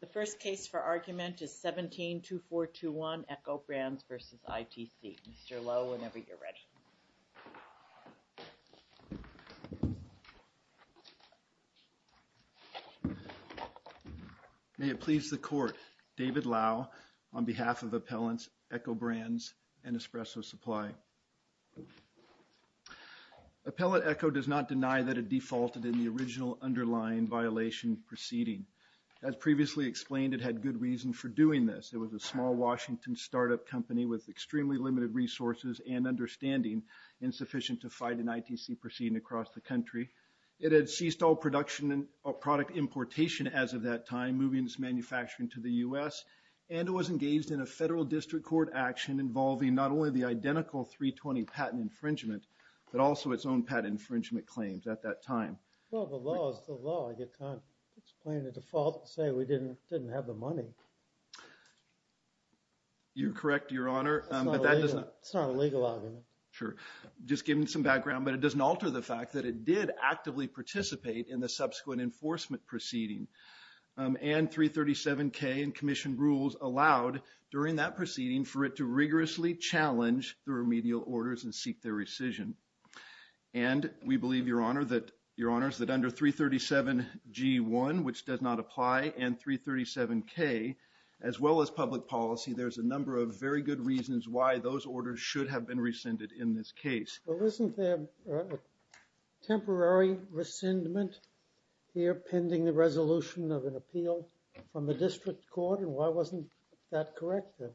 The first case for argument is 17-2421 Eko Brands v. ITC. Mr. Lowe, whenever you're ready. May it please the Court. David Lau on behalf of Appellants, Eko Brands and Espresso Supply. Appellant Eko does not deny that it defaulted in the original underlying violation proceeding. As previously explained, it had good reason for doing this. It was a small Washington startup company with extremely limited resources and understanding, insufficient to fight an ITC proceeding across the country. It had ceased all production and product importation as of that time, moving its manufacturing to the U.S. And it was engaged in a federal district court action involving not only the identical 320 patent infringement, but also its own patent infringement claims at that time. Well, the law is the law. You can't explain the default and say we didn't have the money. You're correct, Your Honor, but that does not... It's not a legal argument. Sure. Just giving some background, but it doesn't alter the fact that it did actively participate in the subsequent enforcement proceeding. And 337K and Commission rules allowed during that proceeding for it to rigorously challenge the remedial orders and seek their rescission. And we believe, Your Honor, that under 337G1, which does not apply, and 337K, as well as public policy, there's a number of very good reasons why those orders should have been rescinded in this case. Well, isn't there a temporary rescindment here pending the resolution of an appeal from the district court? And why wasn't that corrected?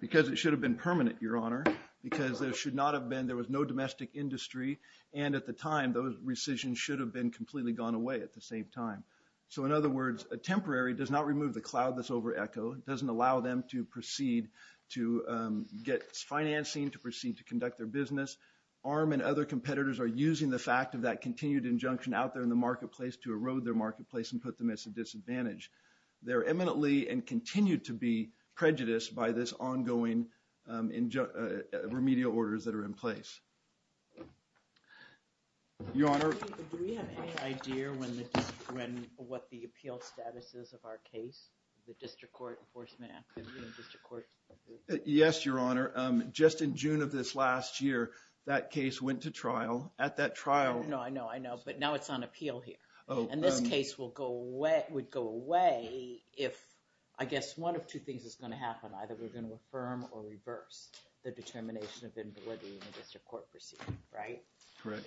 Because it should have been permanent, Your Honor, because there should not have been... There was no domestic industry. And at the time, those rescissions should have been completely gone away at the same time. So, in other words, a temporary does not remove the cloud that's over Echo, doesn't allow them to proceed to get financing, to proceed to conduct their business. ARM and other competitors are using the fact of that continued injunction out there in the marketplace to erode their marketplace and put them as a disadvantage. They're imminently and continue to be prejudiced by this ongoing remedial orders that are in place. Your Honor... Do we have any idea what the appeal status is of our case, the District Court Enforcement Act? Yes, Your Honor. Just in June of this last year, that case went to trial. At that trial...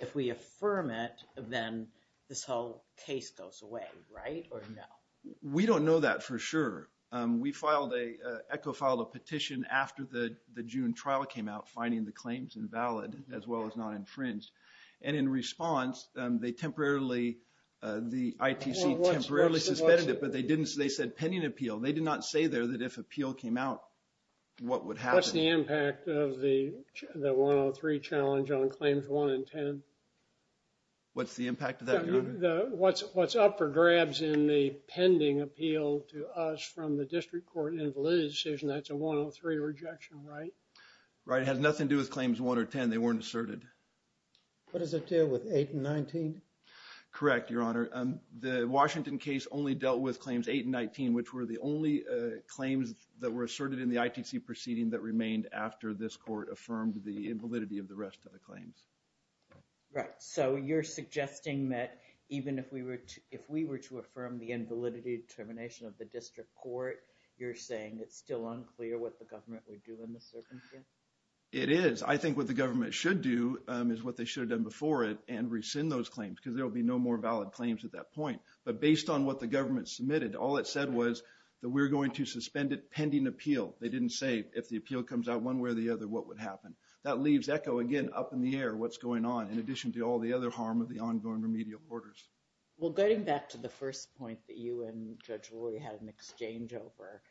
If we affirm it, then this whole case goes away, right? Or no? We don't know that for sure. We filed a... Echo filed a petition after the June trial came out finding the claims invalid as well as not infringed. And in response, they temporarily... The ITC temporarily suspended it, but they didn't... They said pending appeal. They did not say there that if appeal came out, what would happen? What's the impact of the 103 challenge on Claims 1 and 10? What's the impact of that, Your Honor? What's up for grabs in the pending appeal to us from the District Court invalid decision? That's a 103 rejection, right? Right. It has nothing to do with Claims 1 or 10. They weren't asserted. What does it do with 8 and 19? Correct, Your Honor. The Washington case only dealt with Claims 8 and 19, which were the only claims that were asserted in the ITC proceeding that remained after this court affirmed the invalidity of the rest of the claims. Right. So you're suggesting that even if we were to... If we were to affirm the invalidity determination of the District Court, you're saying it's still unclear what the government would do in this circumstance? It is. I think what the government should do is what they should have done before it and rescind those claims because there will be no more valid claims at that point. But based on what the government submitted, all it said was that we're going to suspend it pending appeal. They didn't say if the appeal comes out one way or the other, what would happen? That leaves echo again up in the air what's going on in addition to all the other harm of the ongoing remedial orders. Well, getting back to the first point that you and Judge Rory had an exchange over,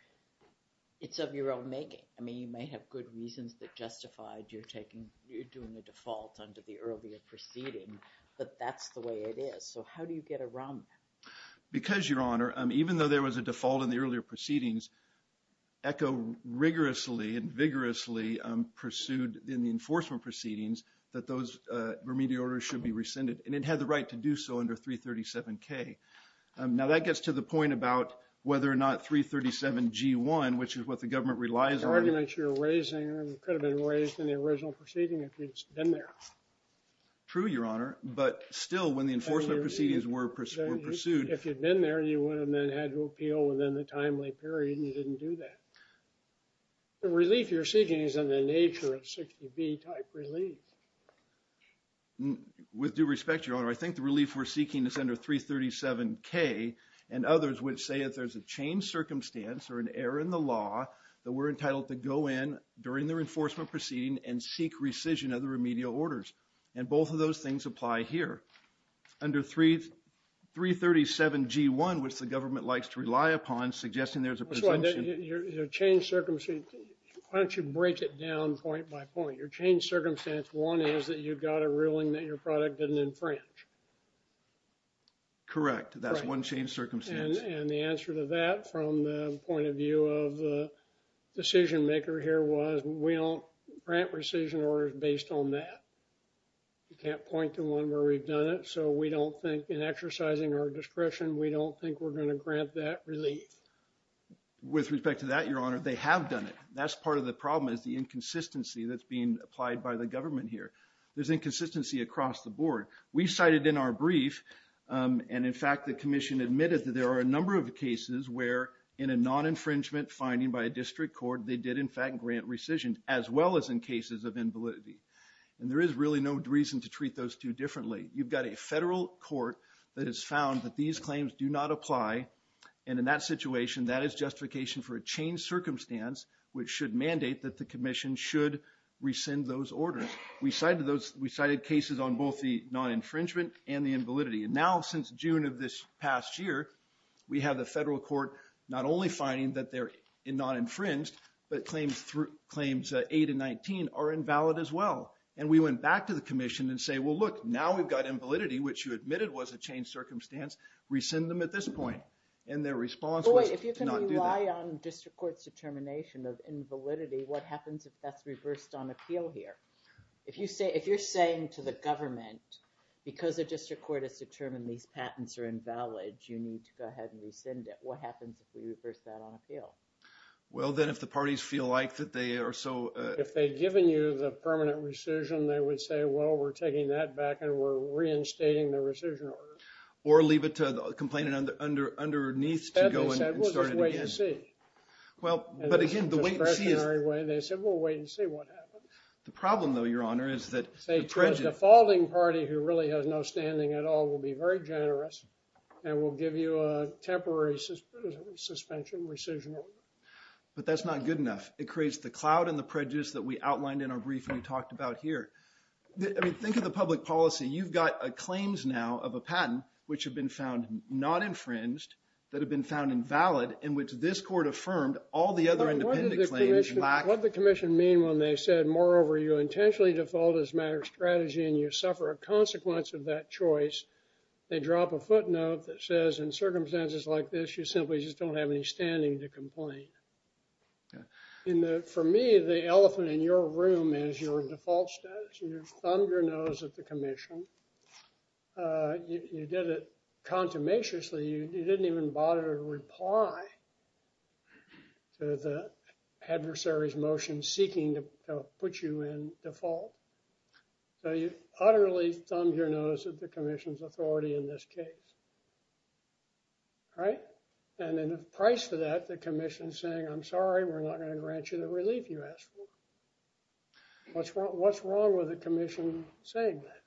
it's of your own making. I mean, you may have good reasons that justified you're doing a default under the earlier proceeding, but that's the way it is. So how do you get around that? And it had the right to do so under 337K. Now, that gets to the point about whether or not 337G1, which is what the government relies on... The arguments you're raising could have been raised in the original proceeding if you'd been there. True, Your Honor. But still, when the enforcement proceedings were pursued... If you'd been there, you would have then had to appeal within the timely period and you didn't do that. The relief you're seeking is in the nature of 60B type relief. With due respect, Your Honor, I think the relief we're seeking is under 337K, and others would say that there's a changed circumstance or an error in the law that we're entitled to go in during the enforcement proceeding and seek rescission of the remedial orders. And both of those things apply here. Under 337G1, which the government likes to rely upon, suggesting there's a presumption... One is that you've got a ruling that your product didn't infringe. Correct. That's one changed circumstance. And the answer to that from the point of view of the decision maker here was we don't grant rescission orders based on that. You can't point to one where we've done it. So we don't think in exercising our discretion, we don't think we're going to grant that relief. With respect to that, Your Honor, they have done it. That's part of the problem is the inconsistency that's being applied by the government here. There's inconsistency across the board. We cited in our brief, and in fact, the commission admitted that there are a number of cases where in a non-infringement finding by a district court, they did in fact grant rescission as well as in cases of invalidity. And there is really no reason to treat those two differently. You've got a federal court that has found that these claims do not apply. And in that situation, that is justification for a changed circumstance, which should mandate that the commission should rescind those orders. We cited cases on both the non-infringement and the invalidity. And now since June of this past year, we have the federal court not only finding that they're non-infringed, but claims 8 and 19 are invalid as well. And we went back to the commission and say, well, look, now we've got invalidity, which you admitted was a changed circumstance, rescind them at this point. And their response was to not do that. If you rely on district court's determination of invalidity, what happens if that's reversed on appeal here? If you're saying to the government, because the district court has determined these patents are invalid, you need to go ahead and rescind it. What happens if we reverse that on appeal? Well, then if the parties feel like that they are so... If they've given you the permanent rescission, they would say, well, we're taking that back and we're reinstating the rescission order. Or leave it to the complainant underneath to go in and start it again. Well, but again, the wait and see is... They said, we'll wait and see what happens. The problem, though, Your Honor, is that the prejudice... Say to a defaulting party who really has no standing at all, we'll be very generous and we'll give you a temporary suspension, rescission order. But that's not good enough. It creates the cloud and the prejudice that we outlined in our brief and we talked about here. Think of the public policy. You've got claims now of a patent which have been found not infringed, that have been found invalid, in which this court affirmed all the other independent claims lack... What did the commission mean when they said, moreover, you intentionally default as a matter of strategy and you suffer a consequence of that choice? They drop a footnote that says, in circumstances like this, you simply just don't have any standing to complain. For me, the elephant in your room is your default status. You thumbed your nose at the commission. You did it contumaciously. You didn't even bother to reply to the adversary's motion seeking to put you in default. So you utterly thumbed your nose at the commission's authority in this case. Right? And in price to that, the commission's saying, I'm sorry, we're not going to grant you the relief you asked for. What's wrong with the commission saying that?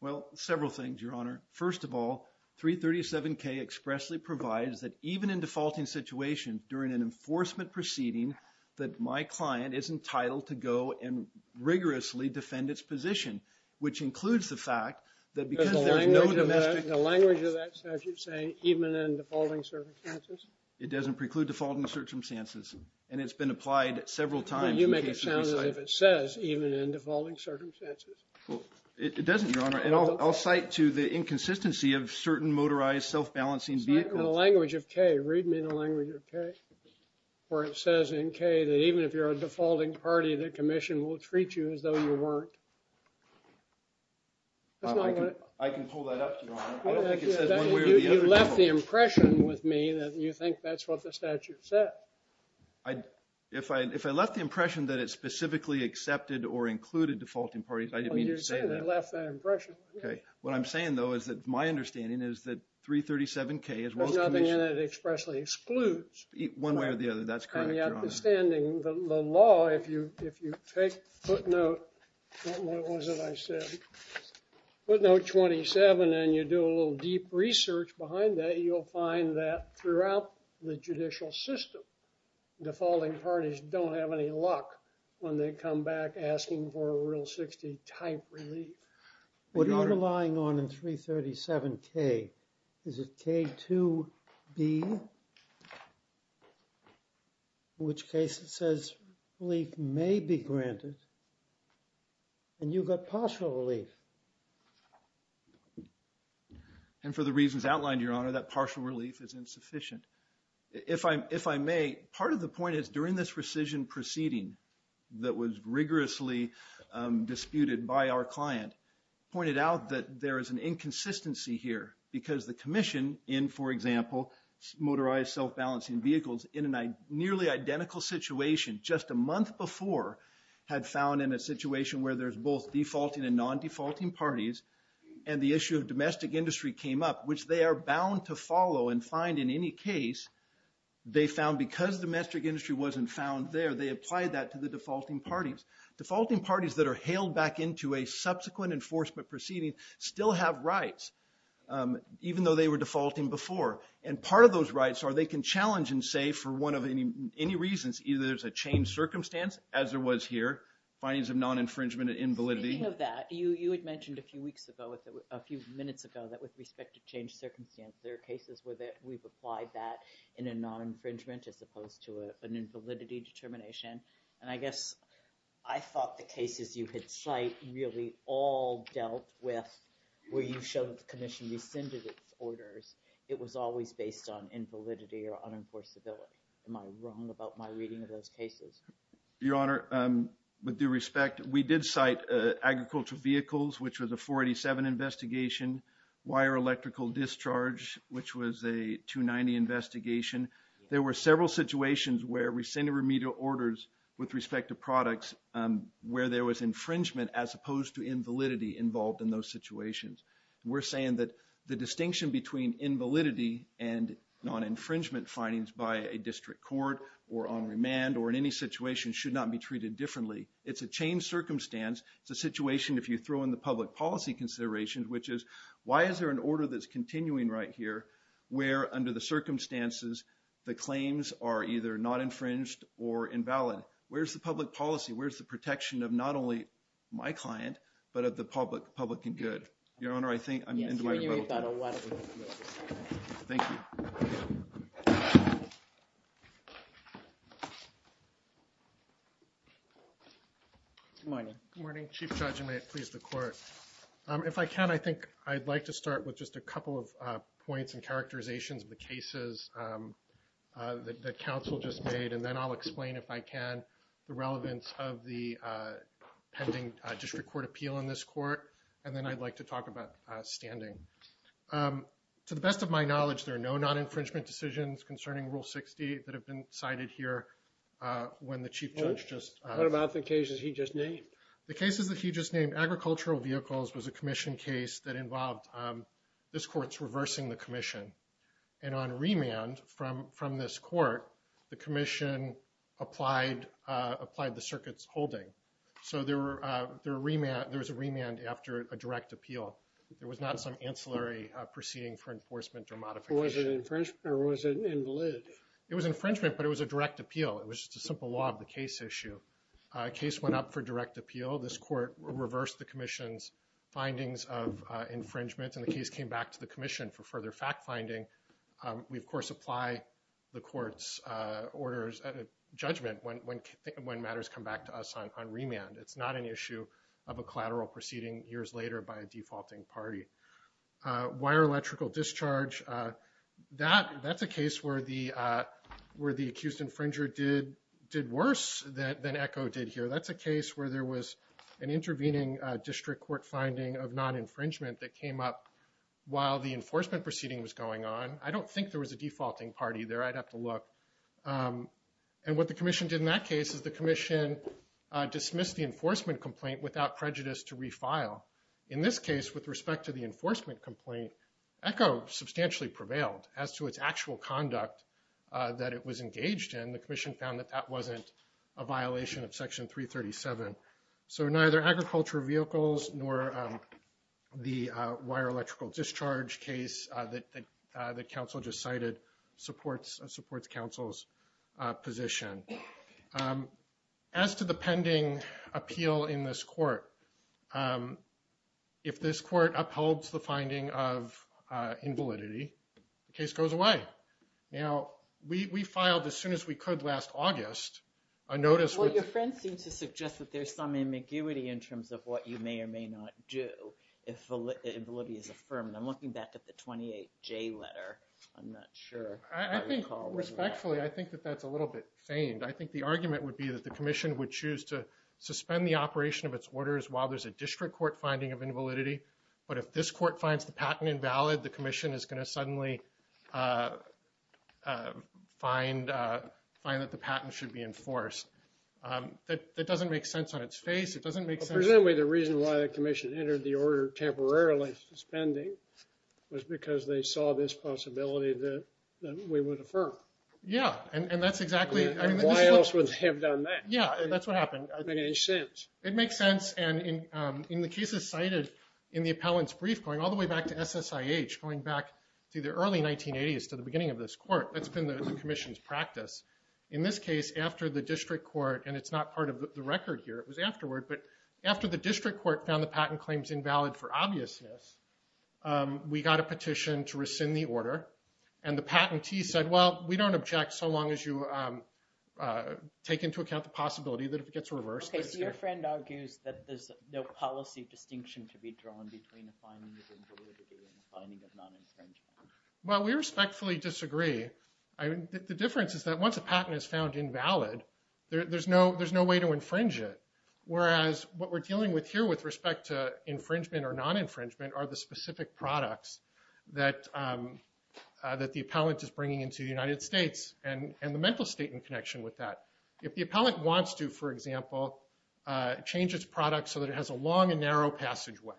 Well, several things, Your Honor. First of all, 337K expressly provides that even in defaulting situations, during an enforcement proceeding, that my client is entitled to go and rigorously defend its position. Which includes the fact that because there is no domestic... The language of that statute saying, even in defaulting circumstances? It doesn't preclude defaulting circumstances. And it's been applied several times. You make it sound as if it says, even in defaulting circumstances. It doesn't, Your Honor. And I'll cite to the inconsistency of certain motorized self-balancing vehicles. The language of K, read me the language of K. Where it says in K that even if you're a defaulting party, the commission will treat you as though you weren't. I can pull that up, Your Honor. I don't think it says one way or the other. You left the impression with me that you think that's what the statute said. If I left the impression that it specifically accepted or included defaulting parties, I didn't mean to say that. You left that impression. Okay. What I'm saying, though, is that my understanding is that 337K, as well as commission... There's nothing in it expressly excludes. One way or the other. That's correct, Your Honor. And the understanding, the law, if you take footnote... What was it I said? Footnote 27, and you do a little deep research behind that, you'll find that throughout the judicial system, defaulting parties don't have any luck when they come back asking for a Rule 60 type relief. What you're relying on in 337K, is it K2B? In which case it says relief may be granted, and you've got partial relief. And for the reasons outlined, Your Honor, that partial relief is insufficient. If I may, part of the point is during this rescission proceeding that was rigorously disputed by our client, pointed out that there is an inconsistency here. Because the commission in, for example, motorized self-balancing vehicles, in a nearly identical situation, just a month before, had found in a situation where there's both defaulting and non-defaulting parties, and the issue of domestic industry came up, which they are bound to follow and find in any case, they found because domestic industry wasn't found there, they applied that to the defaulting parties. Defaulting parties that are hailed back into a subsequent enforcement proceeding still have rights, even though they were defaulting before. And part of those rights are they can challenge and say for one of any reasons, either there's a changed circumstance, as there was here, findings of non-infringement and invalidity. Speaking of that, you had mentioned a few weeks ago, a few minutes ago, that with respect to changed circumstance, there are cases where we've applied that in a non-infringement as opposed to an invalidity determination. And I guess I thought the cases you had cited really all dealt with where you showed the commission rescinded its orders. It was always based on invalidity or unenforceability. Am I wrong about my reading of those cases? Your Honor, with due respect, we did cite agricultural vehicles, which was a 487 investigation, wire electrical discharge, which was a 290 investigation. There were several situations where rescinded remedial orders with respect to products where there was infringement as opposed to invalidity involved in those situations. We're saying that the distinction between invalidity and non-infringement findings by a district court or on remand or in any situation should not be treated differently. It's a changed circumstance. It's a situation, if you throw in the public policy considerations, which is, why is there an order that's continuing right here where, under the circumstances, the claims are either not infringed or invalid? Where's the public policy? Where's the protection of not only my client but of the public and good? Your Honor, I think I'm going to end my rebuttal. Thank you. Good morning. Good morning, Chief Judge, and may it please the Court. If I can, I think I'd like to start with just a couple of points and characterizations of the cases that counsel just made, and then I'll explain, if I can, the relevance of the pending district court appeal in this court, and then I'd like to talk about standing. To the best of my knowledge, there are no non-infringement decisions concerning Rule 60 that have been cited here. What about the cases he just named? The cases that he just named, Agricultural Vehicles, was a commission case that involved this court's reversing the commission. And on remand from this court, the commission applied the circuit's holding. So there was a remand after a direct appeal. There was not some ancillary proceeding for enforcement or modification. Was it infringement or was it invalid? It was infringement, but it was a direct appeal. It was just a simple law of the case issue. A case went up for direct appeal. This court reversed the commission's findings of infringement, and the case came back to the commission for further fact-finding. We, of course, apply the court's orders of judgment when matters come back to us on remand. It's not an issue of a collateral proceeding years later by a defaulting party. Wire electrical discharge, that's a case where the accused infringer did worse than Echo did here. That's a case where there was an intervening district court finding of non-infringement that came up while the enforcement proceeding was going on. I don't think there was a defaulting party there. I'd have to look. And what the commission did in that case is the commission dismissed the enforcement complaint without prejudice to refile. In this case, with respect to the enforcement complaint, Echo substantially prevailed as to its actual conduct that it was engaged in. And the commission found that that wasn't a violation of Section 337. So neither agriculture vehicles nor the wire electrical discharge case that counsel just cited supports counsel's position. As to the pending appeal in this court, if this court upholds the finding of invalidity, the case goes away. Now, we filed as soon as we could last August a notice. Well, your friends seem to suggest that there's some ambiguity in terms of what you may or may not do if validity is affirmed. I'm looking back at the 28J letter. I'm not sure. Respectfully, I think that that's a little bit feigned. I think the argument would be that the commission would choose to suspend the operation of its orders while there's a district court finding of invalidity. But if this court finds the patent invalid, the commission is going to suddenly find that the patent should be enforced. That doesn't make sense on its face. It doesn't make sense. Presumably, the reason why the commission entered the order temporarily suspending was because they saw this possibility that we would affirm. Yeah, and that's exactly. Why else would they have done that? It doesn't make any sense. It makes sense. And in the cases cited in the appellant's brief, going all the way back to SSIH, going back to the early 1980s to the beginning of this court, that's been the commission's practice. In this case, after the district court, and it's not part of the record here. It was afterward. But after the district court found the patent claims invalid for obviousness, we got a petition to rescind the order. And the patentee said, well, we don't object so long as you take into account the possibility that it gets reversed. So your friend argues that there's no policy distinction to be drawn between a finding of invalidity and a finding of non-infringement. Well, we respectfully disagree. The difference is that once a patent is found invalid, there's no way to infringe it. Whereas what we're dealing with here with respect to infringement or non-infringement are the specific products that the appellant is bringing into the United States and the mental state in connection with that. If the appellant wants to, for example, change its products so that it has a long and narrow passageway,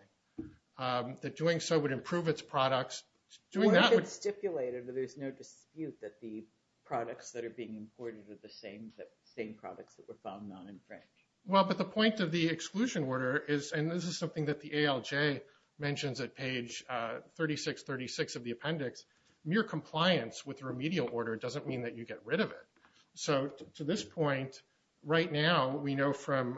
that doing so would improve its products. Or if it's stipulated that there's no dispute that the products that are being imported are the same products that were found non-infringed. Well, but the point of the exclusion order is, and this is something that the ALJ mentions at page 3636 of the appendix, mere compliance with the remedial order doesn't mean that you get rid of it. So to this point, right now, we know from...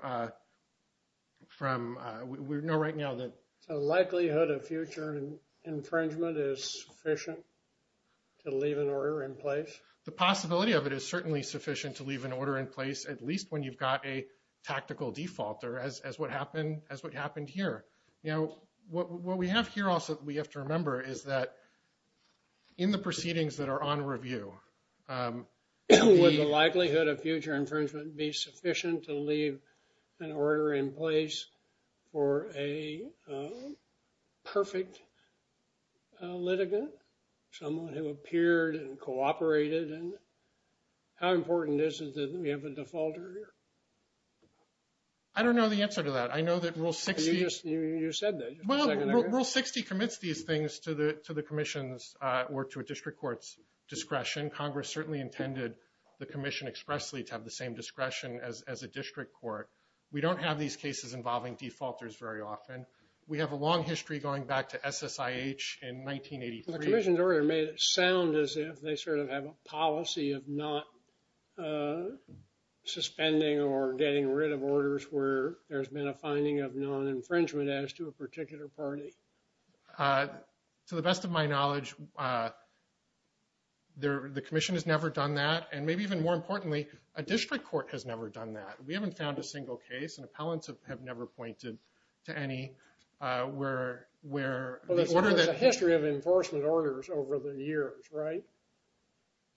We know right now that... The likelihood of future infringement is sufficient to leave an order in place? The possibility of it is certainly sufficient to leave an order in place, at least when you've got a tactical default, as what happened here. You know, what we have here also that we have to remember is that in the proceedings that are on review... Would the likelihood of future infringement be sufficient to leave an order in place for a perfect litigant, someone who appeared and cooperated? And how important is it that we have a defaulter here? I don't know the answer to that. I know that Rule 60... You said that. Well, Rule 60 commits these things to the commission's or to a district court's discretion. Congress certainly intended the commission expressly to have the same discretion as a district court. We don't have these cases involving defaulters very often. We have a long history going back to SSIH in 1983. The commission's order made it sound as if they sort of have a policy of not suspending or getting rid of orders where there's been a finding of non-infringement as to a particular party. To the best of my knowledge, the commission has never done that. And maybe even more importantly, a district court has never done that. We haven't found a single case, and appellants have never pointed to any where... There's a history of enforcement orders over the years, right?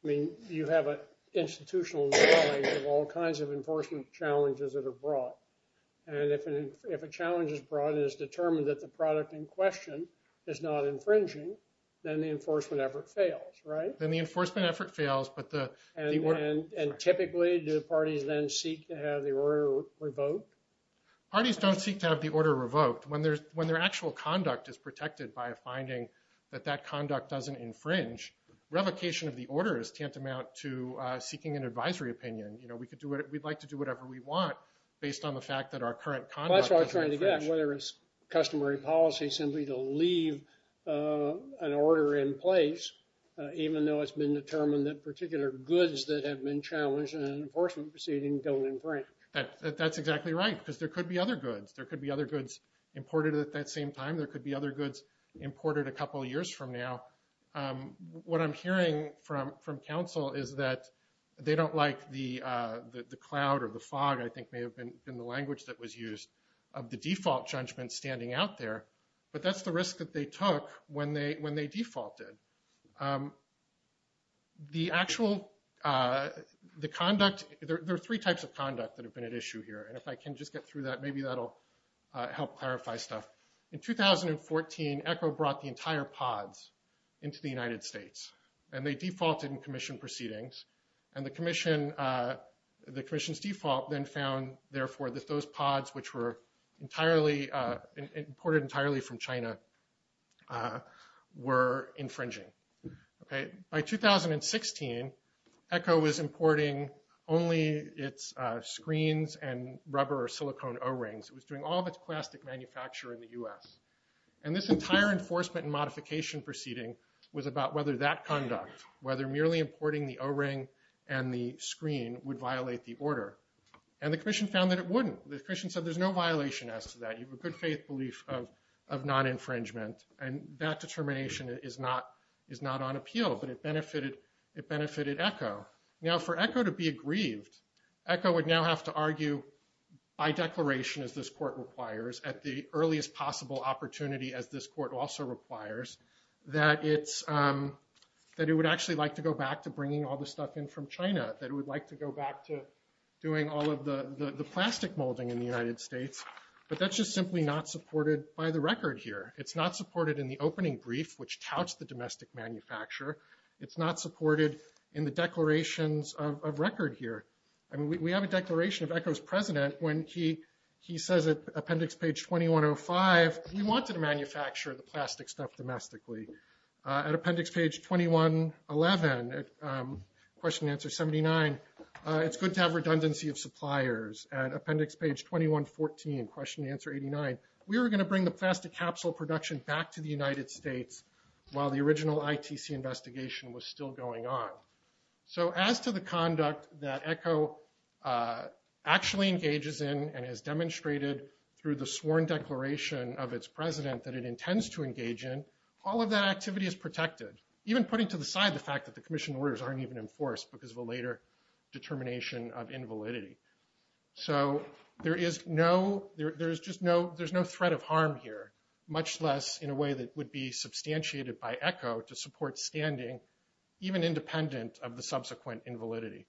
I mean, you have an institutional knowledge of all kinds of enforcement challenges that are brought. And if a challenge is brought and it's determined that the product in question is not infringing, then the enforcement effort fails, right? Then the enforcement effort fails, but the... And typically, do the parties then seek to have the order revoked? Parties don't seek to have the order revoked. When their actual conduct is protected by a finding that that conduct doesn't infringe, revocation of the order is tantamount to seeking an advisory opinion. You know, we'd like to do whatever we want based on the fact that our current conduct doesn't infringe. That's what I was trying to get, whether it's customary policy simply to leave an order in place, even though it's been determined that particular goods that have been challenged in an enforcement proceeding don't infringe. That's exactly right, because there could be other goods. There could be other goods imported at that same time. There could be other goods imported a couple of years from now. What I'm hearing from counsel is that they don't like the cloud or the fog, I think may have been the language that was used, of the default judgment standing out there. But that's the risk that they took when they defaulted. The actual, the conduct, there are three types of conduct that have been at issue here. And if I can just get through that, maybe that'll help clarify stuff. In 2014, ECHO brought the entire pods into the United States, and they defaulted in commission proceedings. And the commission's default then found, therefore, that those pods, which were imported entirely from China, were infringing. By 2016, ECHO was importing only its screens and rubber or silicone O-rings. It was doing all of its plastic manufacture in the U.S. And this entire enforcement and modification proceeding was about whether that conduct, whether merely importing the O-ring and the screen, would violate the order. And the commission found that it wouldn't. The commission said there's no violation as to that. You have a good faith belief of non-infringement. And that determination is not on appeal, but it benefited ECHO. Now, for ECHO to be aggrieved, ECHO would now have to argue by declaration, as this court requires, at the earliest possible opportunity, as this court also requires, that it would actually like to go back to bringing all the stuff in from China. That it would like to go back to doing all of the plastic molding in the United States. But that's just simply not supported by the record here. It's not supported in the opening brief, which touts the domestic manufacturer. It's not supported in the declarations of record here. I mean, we have a declaration of ECHO's president when he says at appendix page 2105, we wanted to manufacture the plastic stuff domestically. At appendix page 2111, question and answer 79, it's good to have redundancy of suppliers. At appendix page 2114, question and answer 89, we were going to bring the plastic capsule production back to the United States while the original ITC investigation was still going on. So as to the conduct that ECHO actually engages in and has demonstrated through the sworn declaration of its president that it intends to engage in, all of that activity is protected. Even putting to the side the fact that the commission orders aren't even enforced because of a later determination of invalidity. So there's no threat of harm here, much less in a way that would be substantiated by ECHO to support standing, even independent of the subsequent invalidity.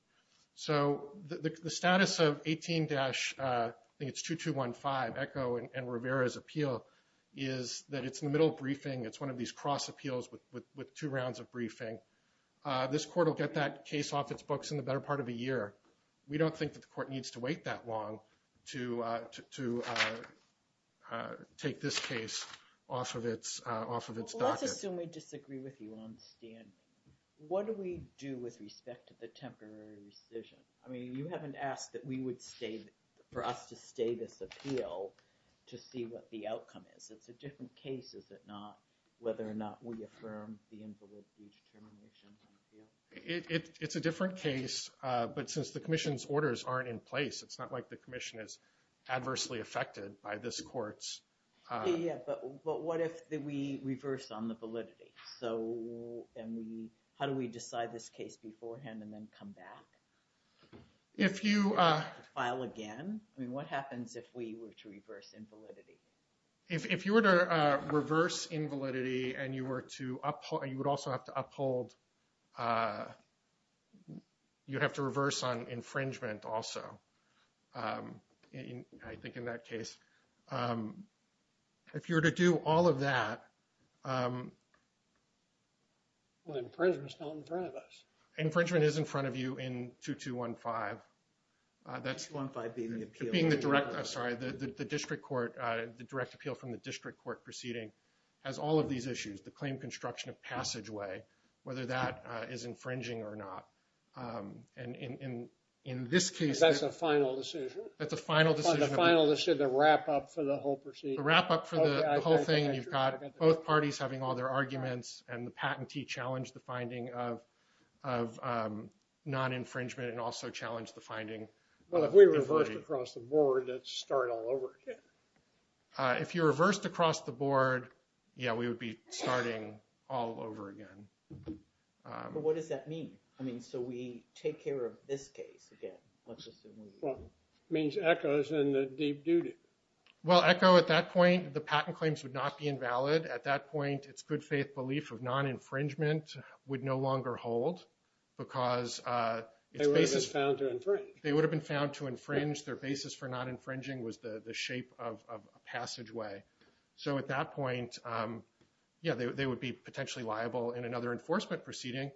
So the status of 18-2215, ECHO and Rivera's appeal, is that it's in the middle of briefing. It's one of these cross appeals with two rounds of briefing. This court will get that case off its books in the better part of a year. We don't think that the court needs to wait that long to take this case off of its docket. Let's assume we disagree with you on standing. What do we do with respect to the temporary rescission? I mean, you haven't asked that we would stay, for us to stay this appeal to see what the outcome is. It's a different case, is it not, whether or not we affirm the invalidity determination. It's a different case, but since the commission's orders aren't in place, it's not like the commission is adversely affected by this court's... Yeah, but what if we reverse on the validity? So how do we decide this case beforehand and then come back? If you... File again? I mean, what happens if we were to reverse invalidity? If you were to reverse invalidity and you were to uphold, you would also have to uphold... You have to reverse on infringement also, I think, in that case. If you were to do all of that... Well, infringement's not in front of us. Infringement is in front of you in 2215. 2215 being the appeal. Sorry, the direct appeal from the district court proceeding has all of these issues. The claim construction of passageway, whether that is infringing or not. And in this case... That's a final decision? That's a final decision. The final decision, the wrap-up for the whole proceeding. The wrap-up for the whole thing, and you've got both parties having all their arguments, and the patentee challenged the finding of non-infringement and also challenged the finding of... Well, if we reversed across the board, that's start all over again. If you reversed across the board, yeah, we would be starting all over again. But what does that mean? I mean, so we take care of this case again, let's assume we... Well, it means ECHO's in the deep duty. Well, ECHO, at that point, the patent claims would not be invalid. At that point, its good faith belief of non-infringement would no longer hold because... They would have been found to infringe. They would have been found to infringe. Their basis for not infringing was the shape of a passageway. So at that point, yeah, they would be potentially liable in another enforcement proceeding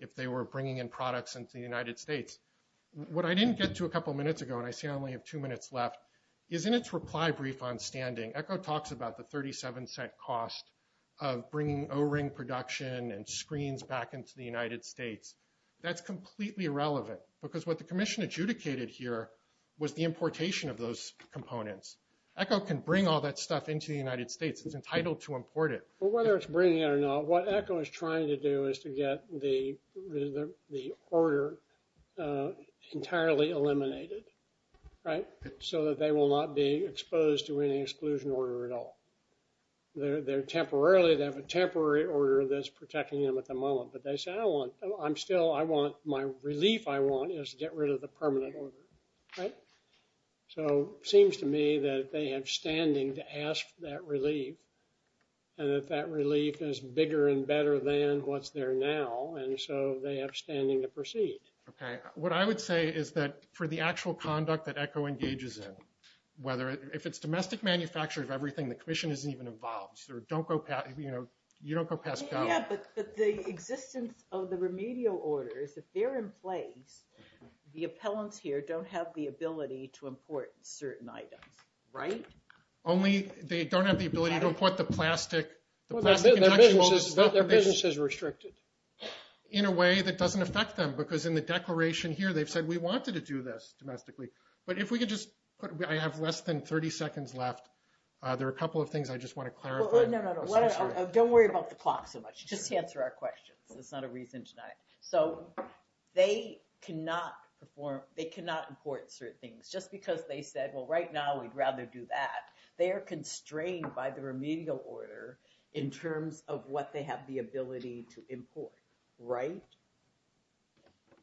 if they were bringing in products into the United States. What I didn't get to a couple minutes ago, and I see I only have two minutes left, is in its reply brief on standing, ECHO talks about the $0.37 cost of bringing O-ring production and screens back into the United States. That's completely irrelevant because what the commission adjudicated here was the importation of those components. ECHO can bring all that stuff into the United States. It's entitled to import it. Well, whether it's bringing it or not, what ECHO is trying to do is to get the order entirely eliminated, right? So that they will not be exposed to any exclusion order at all. They're temporarily, they have a temporary order that's protecting them at the moment. But they say, I want, I'm still, I want, my relief I want is to get rid of the permanent order, right? So it seems to me that they have standing to ask that relief. And that that relief is bigger and better than what's there now. And so they have standing to proceed. Okay. What I would say is that for the actual conduct that ECHO engages in, whether, if it's domestic manufacture of everything, the commission isn't even involved. So don't go, you know, you don't go pass go. Yeah, but the existence of the remedial orders, if they're in place, the appellants here don't have the ability to import certain items, right? Only, they don't have the ability to import the plastic. Their business is restricted. In a way that doesn't affect them, because in the declaration here, they've said we wanted to do this domestically. But if we could just put, I have less than 30 seconds left. There are a couple of things I just want to clarify. Don't worry about the clock so much. Just answer our questions. It's not a reason tonight. So they cannot perform, they cannot import certain things. Just because they said, well, right now we'd rather do that. They are constrained by the remedial order in terms of what they have the ability to import, right?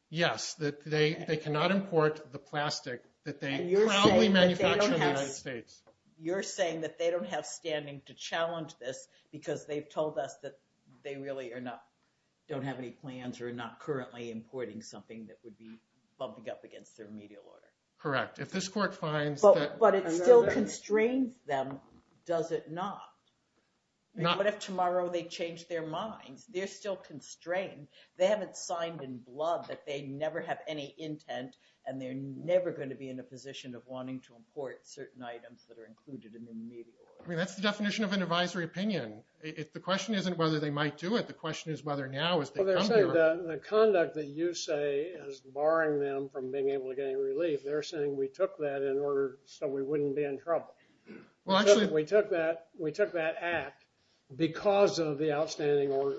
Yes. They cannot import the plastic that they proudly manufacture in the United States. You're saying that they don't have standing to challenge this, because they've told us that they really are not, don't have any plans or are not currently importing something that would be bumping up against their remedial order. Correct. If this court finds that. But it still constrains them, does it not? What if tomorrow they change their minds? They're still constrained. They haven't signed in blood that they never have any intent and they're never going to be in a position of wanting to import certain items that are included in the remedial order. I mean, that's the definition of an advisory opinion. The question isn't whether they might do it. The question is whether now is the time to do it. The conduct that you say is barring them from being able to get any relief, they're saying we took that in order so we wouldn't be in trouble. We took that act because of the outstanding order.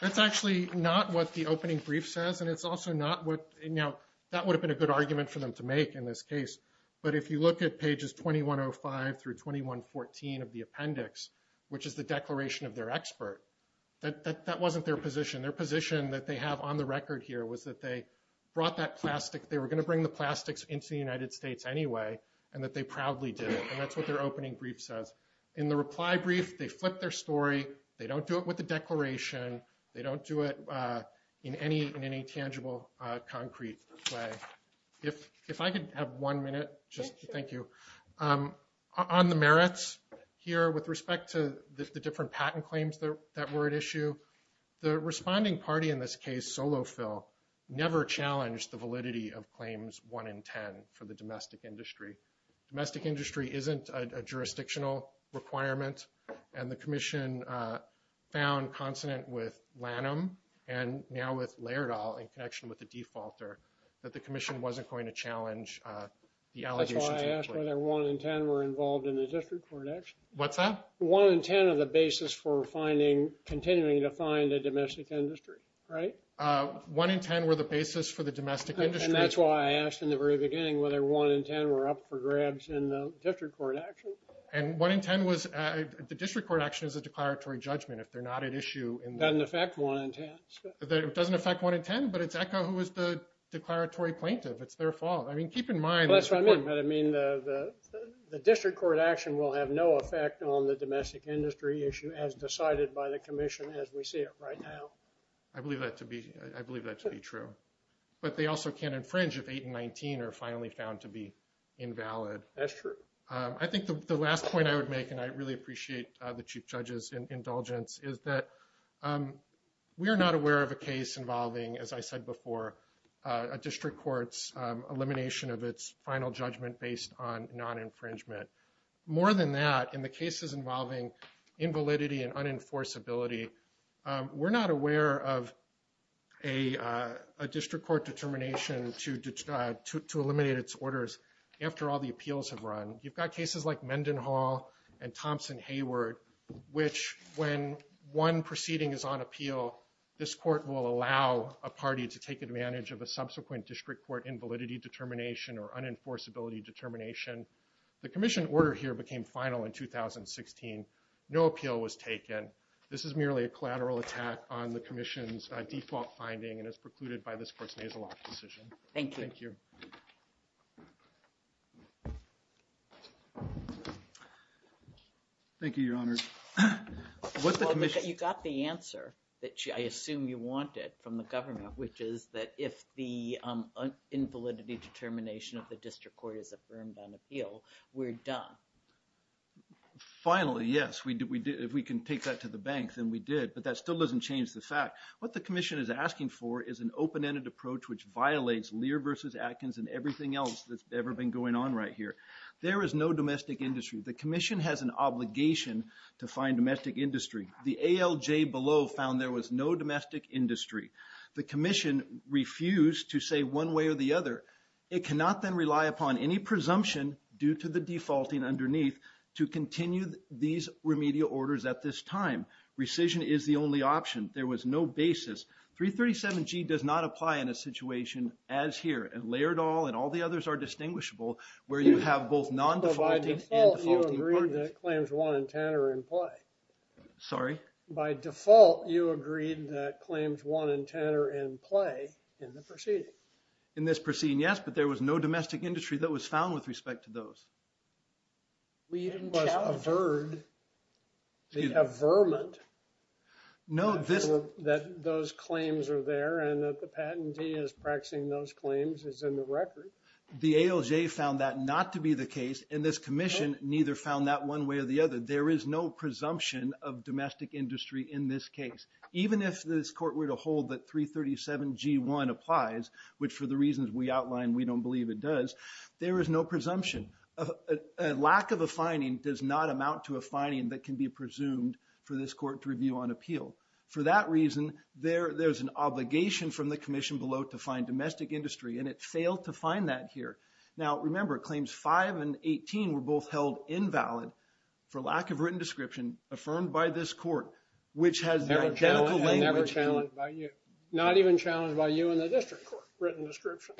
That's actually not what the opening brief says, and it's also not what, you know, that would have been a good argument for them to make in this case. But if you look at pages 2105 through 2114 of the appendix, which is the declaration of their expert, that wasn't their position. Their position that they have on the record here was that they brought that plastic, they were going to bring the plastics into the United States anyway, and that they proudly did it. And that's what their opening brief says. In the reply brief, they flip their story. They don't do it with the declaration. They don't do it in any tangible, concrete way. If I could have one minute, just thank you. On the merits here with respect to the different patent claims that were at issue, the responding party in this case, Solofil, never challenged the validity of claims one in 10 for the domestic industry. Domestic industry isn't a jurisdictional requirement, and the commission found consonant with Lanham, and now with Laerdal in connection with the defaulter, that the commission wasn't going to challenge the allegations. That's why I asked whether one in 10 were involved in the district court action. What's that? One in 10 of the basis for continuing to find a domestic industry, right? One in 10 were the basis for the domestic industry. And that's why I asked in the very beginning whether one in 10 were up for grabs in the district court action. And one in 10 was, the district court action is a declaratory judgment. If they're not at issue. Doesn't affect one in 10. It doesn't affect one in 10, but it's Echo who was the declaratory plaintiff. It's their fault. I mean, keep in mind. That's what I mean, but I mean the district court action will have no effect on the domestic industry issue as decided by the commission as we see it right now. I believe that to be. I believe that to be true, but they also can't infringe if eight and 19 are finally found to be invalid. That's true. I think the last point I would make, and I really appreciate the chief judges indulgence is that. We are not aware of a case involving, as I said before, a district courts elimination of its final judgment based on non infringement. More than that, in the cases involving. Invalidity and unenforceability. We're not aware of. A district court determination to, to eliminate its orders after all the appeals have run. You've got cases like Mendenhall and Thompson Hayward, which when one proceeding is on appeal, this court will allow a party to take advantage of a subsequent district court, invalidity determination or unenforceability determination. The commission order here became final in 2016. No appeal was taken. And this is merely a collateral attack on the commission's default finding and is precluded by this person. He has a lot of decision. Thank you. Thank you. Thank you. Your honor. What's the commission? You got the answer that I assume you wanted from the government, which is that if the. Invalidity determination of the district court is affirmed on appeal. We're done. Finally. Yes, we did. If we can take that to the bank, then we did, but that still doesn't change the fact what the commission is asking for is an open-ended approach, which violates leer versus Atkins and everything else that's ever been going on right here. There is no domestic industry. The commission has an obligation to find domestic industry. The ALJ below found there was no domestic industry. The commission refused to say one way or the other. It cannot then rely upon any presumption due to the defaulting underneath to continue these remedial orders at this time. Rescission is the only option. There was no basis. Three 37 G does not apply in a situation as here and layered all, and all the others are distinguishable where you have both non-default. Claims one and Tanner and play. Sorry, by default, you agreed that claims one and Tanner and play in the proceeding. In this proceeding. Yes, but there was no domestic industry that was found with respect to those. We even was a bird. They have vermin. No, this, that those claims are there. And that the patentee is practicing. Those claims is in the record. The ALJ found that not to be the case in this commission, neither found that one way or the other. There is no presumption of domestic industry in this case, even if this court were to hold that three 37 G one applies, which for the reasons we outlined, we don't believe it does. There is no presumption of a lack of a finding does not amount to a finding that can be presumed for this court to review on appeal for that reason. There there's an obligation from the commission below to find domestic industry. And it failed to find that here. Now, remember claims five and 18 were both held invalid for lack of written description affirmed by this court, which has never challenged by you, not even challenged by you in the district written description.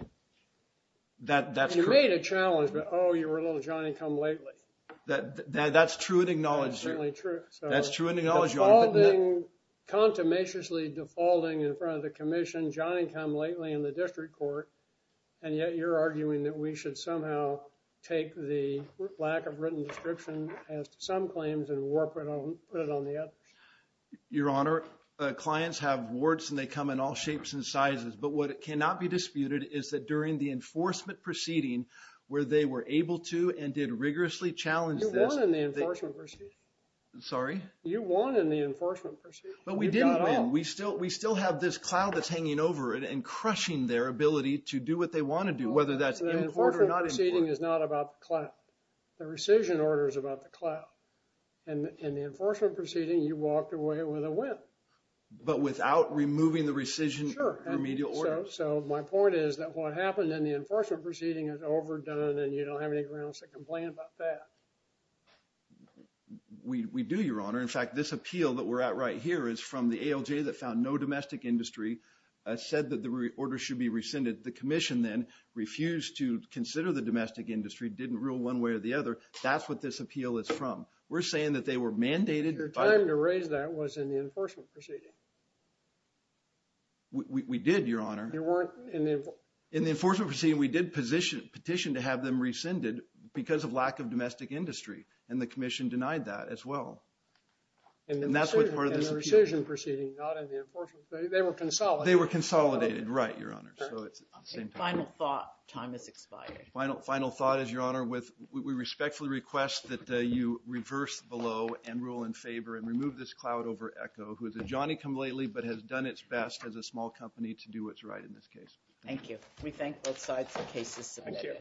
That you made a challenge, but, Oh, you were a little Johnny come lately. That that's true and acknowledged. Certainly true. That's true in the knowledge you're holding. Contumaciously defaulting in front of the commission, Johnny come lately in the district court. And yet you're arguing that we should somehow take the lack of written description as some claims and work on it on the other. Your honor, clients have warts and they come in all shapes and sizes, but what cannot be disputed is that during the enforcement proceeding where they were able to, and did rigorously challenge. Sorry, you won in the enforcement, but we didn't win. We still, we still have this cloud that's hanging over it and crushing their ability to do what they want to do. Whether that's important or not is not about the cloud. The rescission order is about the cloud and the enforcement proceeding. You walked away with a win, but without removing the rescission, so my point is that what happened in the enforcement proceeding is overdone and you don't have any grounds to complain about that. We do your honor. In fact, this appeal that we're at right here is from the ALJ that found no domestic industry said that the order should be rescinded. The commission then refused to consider the domestic industry. Didn't rule one way or the other. That's what this appeal is from. We're saying that they were mandated. Your time to raise that was in the enforcement proceeding. We did your honor. In the enforcement proceeding, we did petition to have them rescinded because of lack of domestic industry and the commission denied that as well. And that's what part of the rescission proceeding, not in the enforcement. They were consolidated. They were consolidated. Right. Your honor. Final thought. Time is expired. Final, final thought is your honor with, we respectfully request that you reverse below and rule in favor and remove this cloud over echo who is a Johnny come lately, but has done its best as a small company to do what's right in this case. Thank you. We thank both sides for cases. Thank you.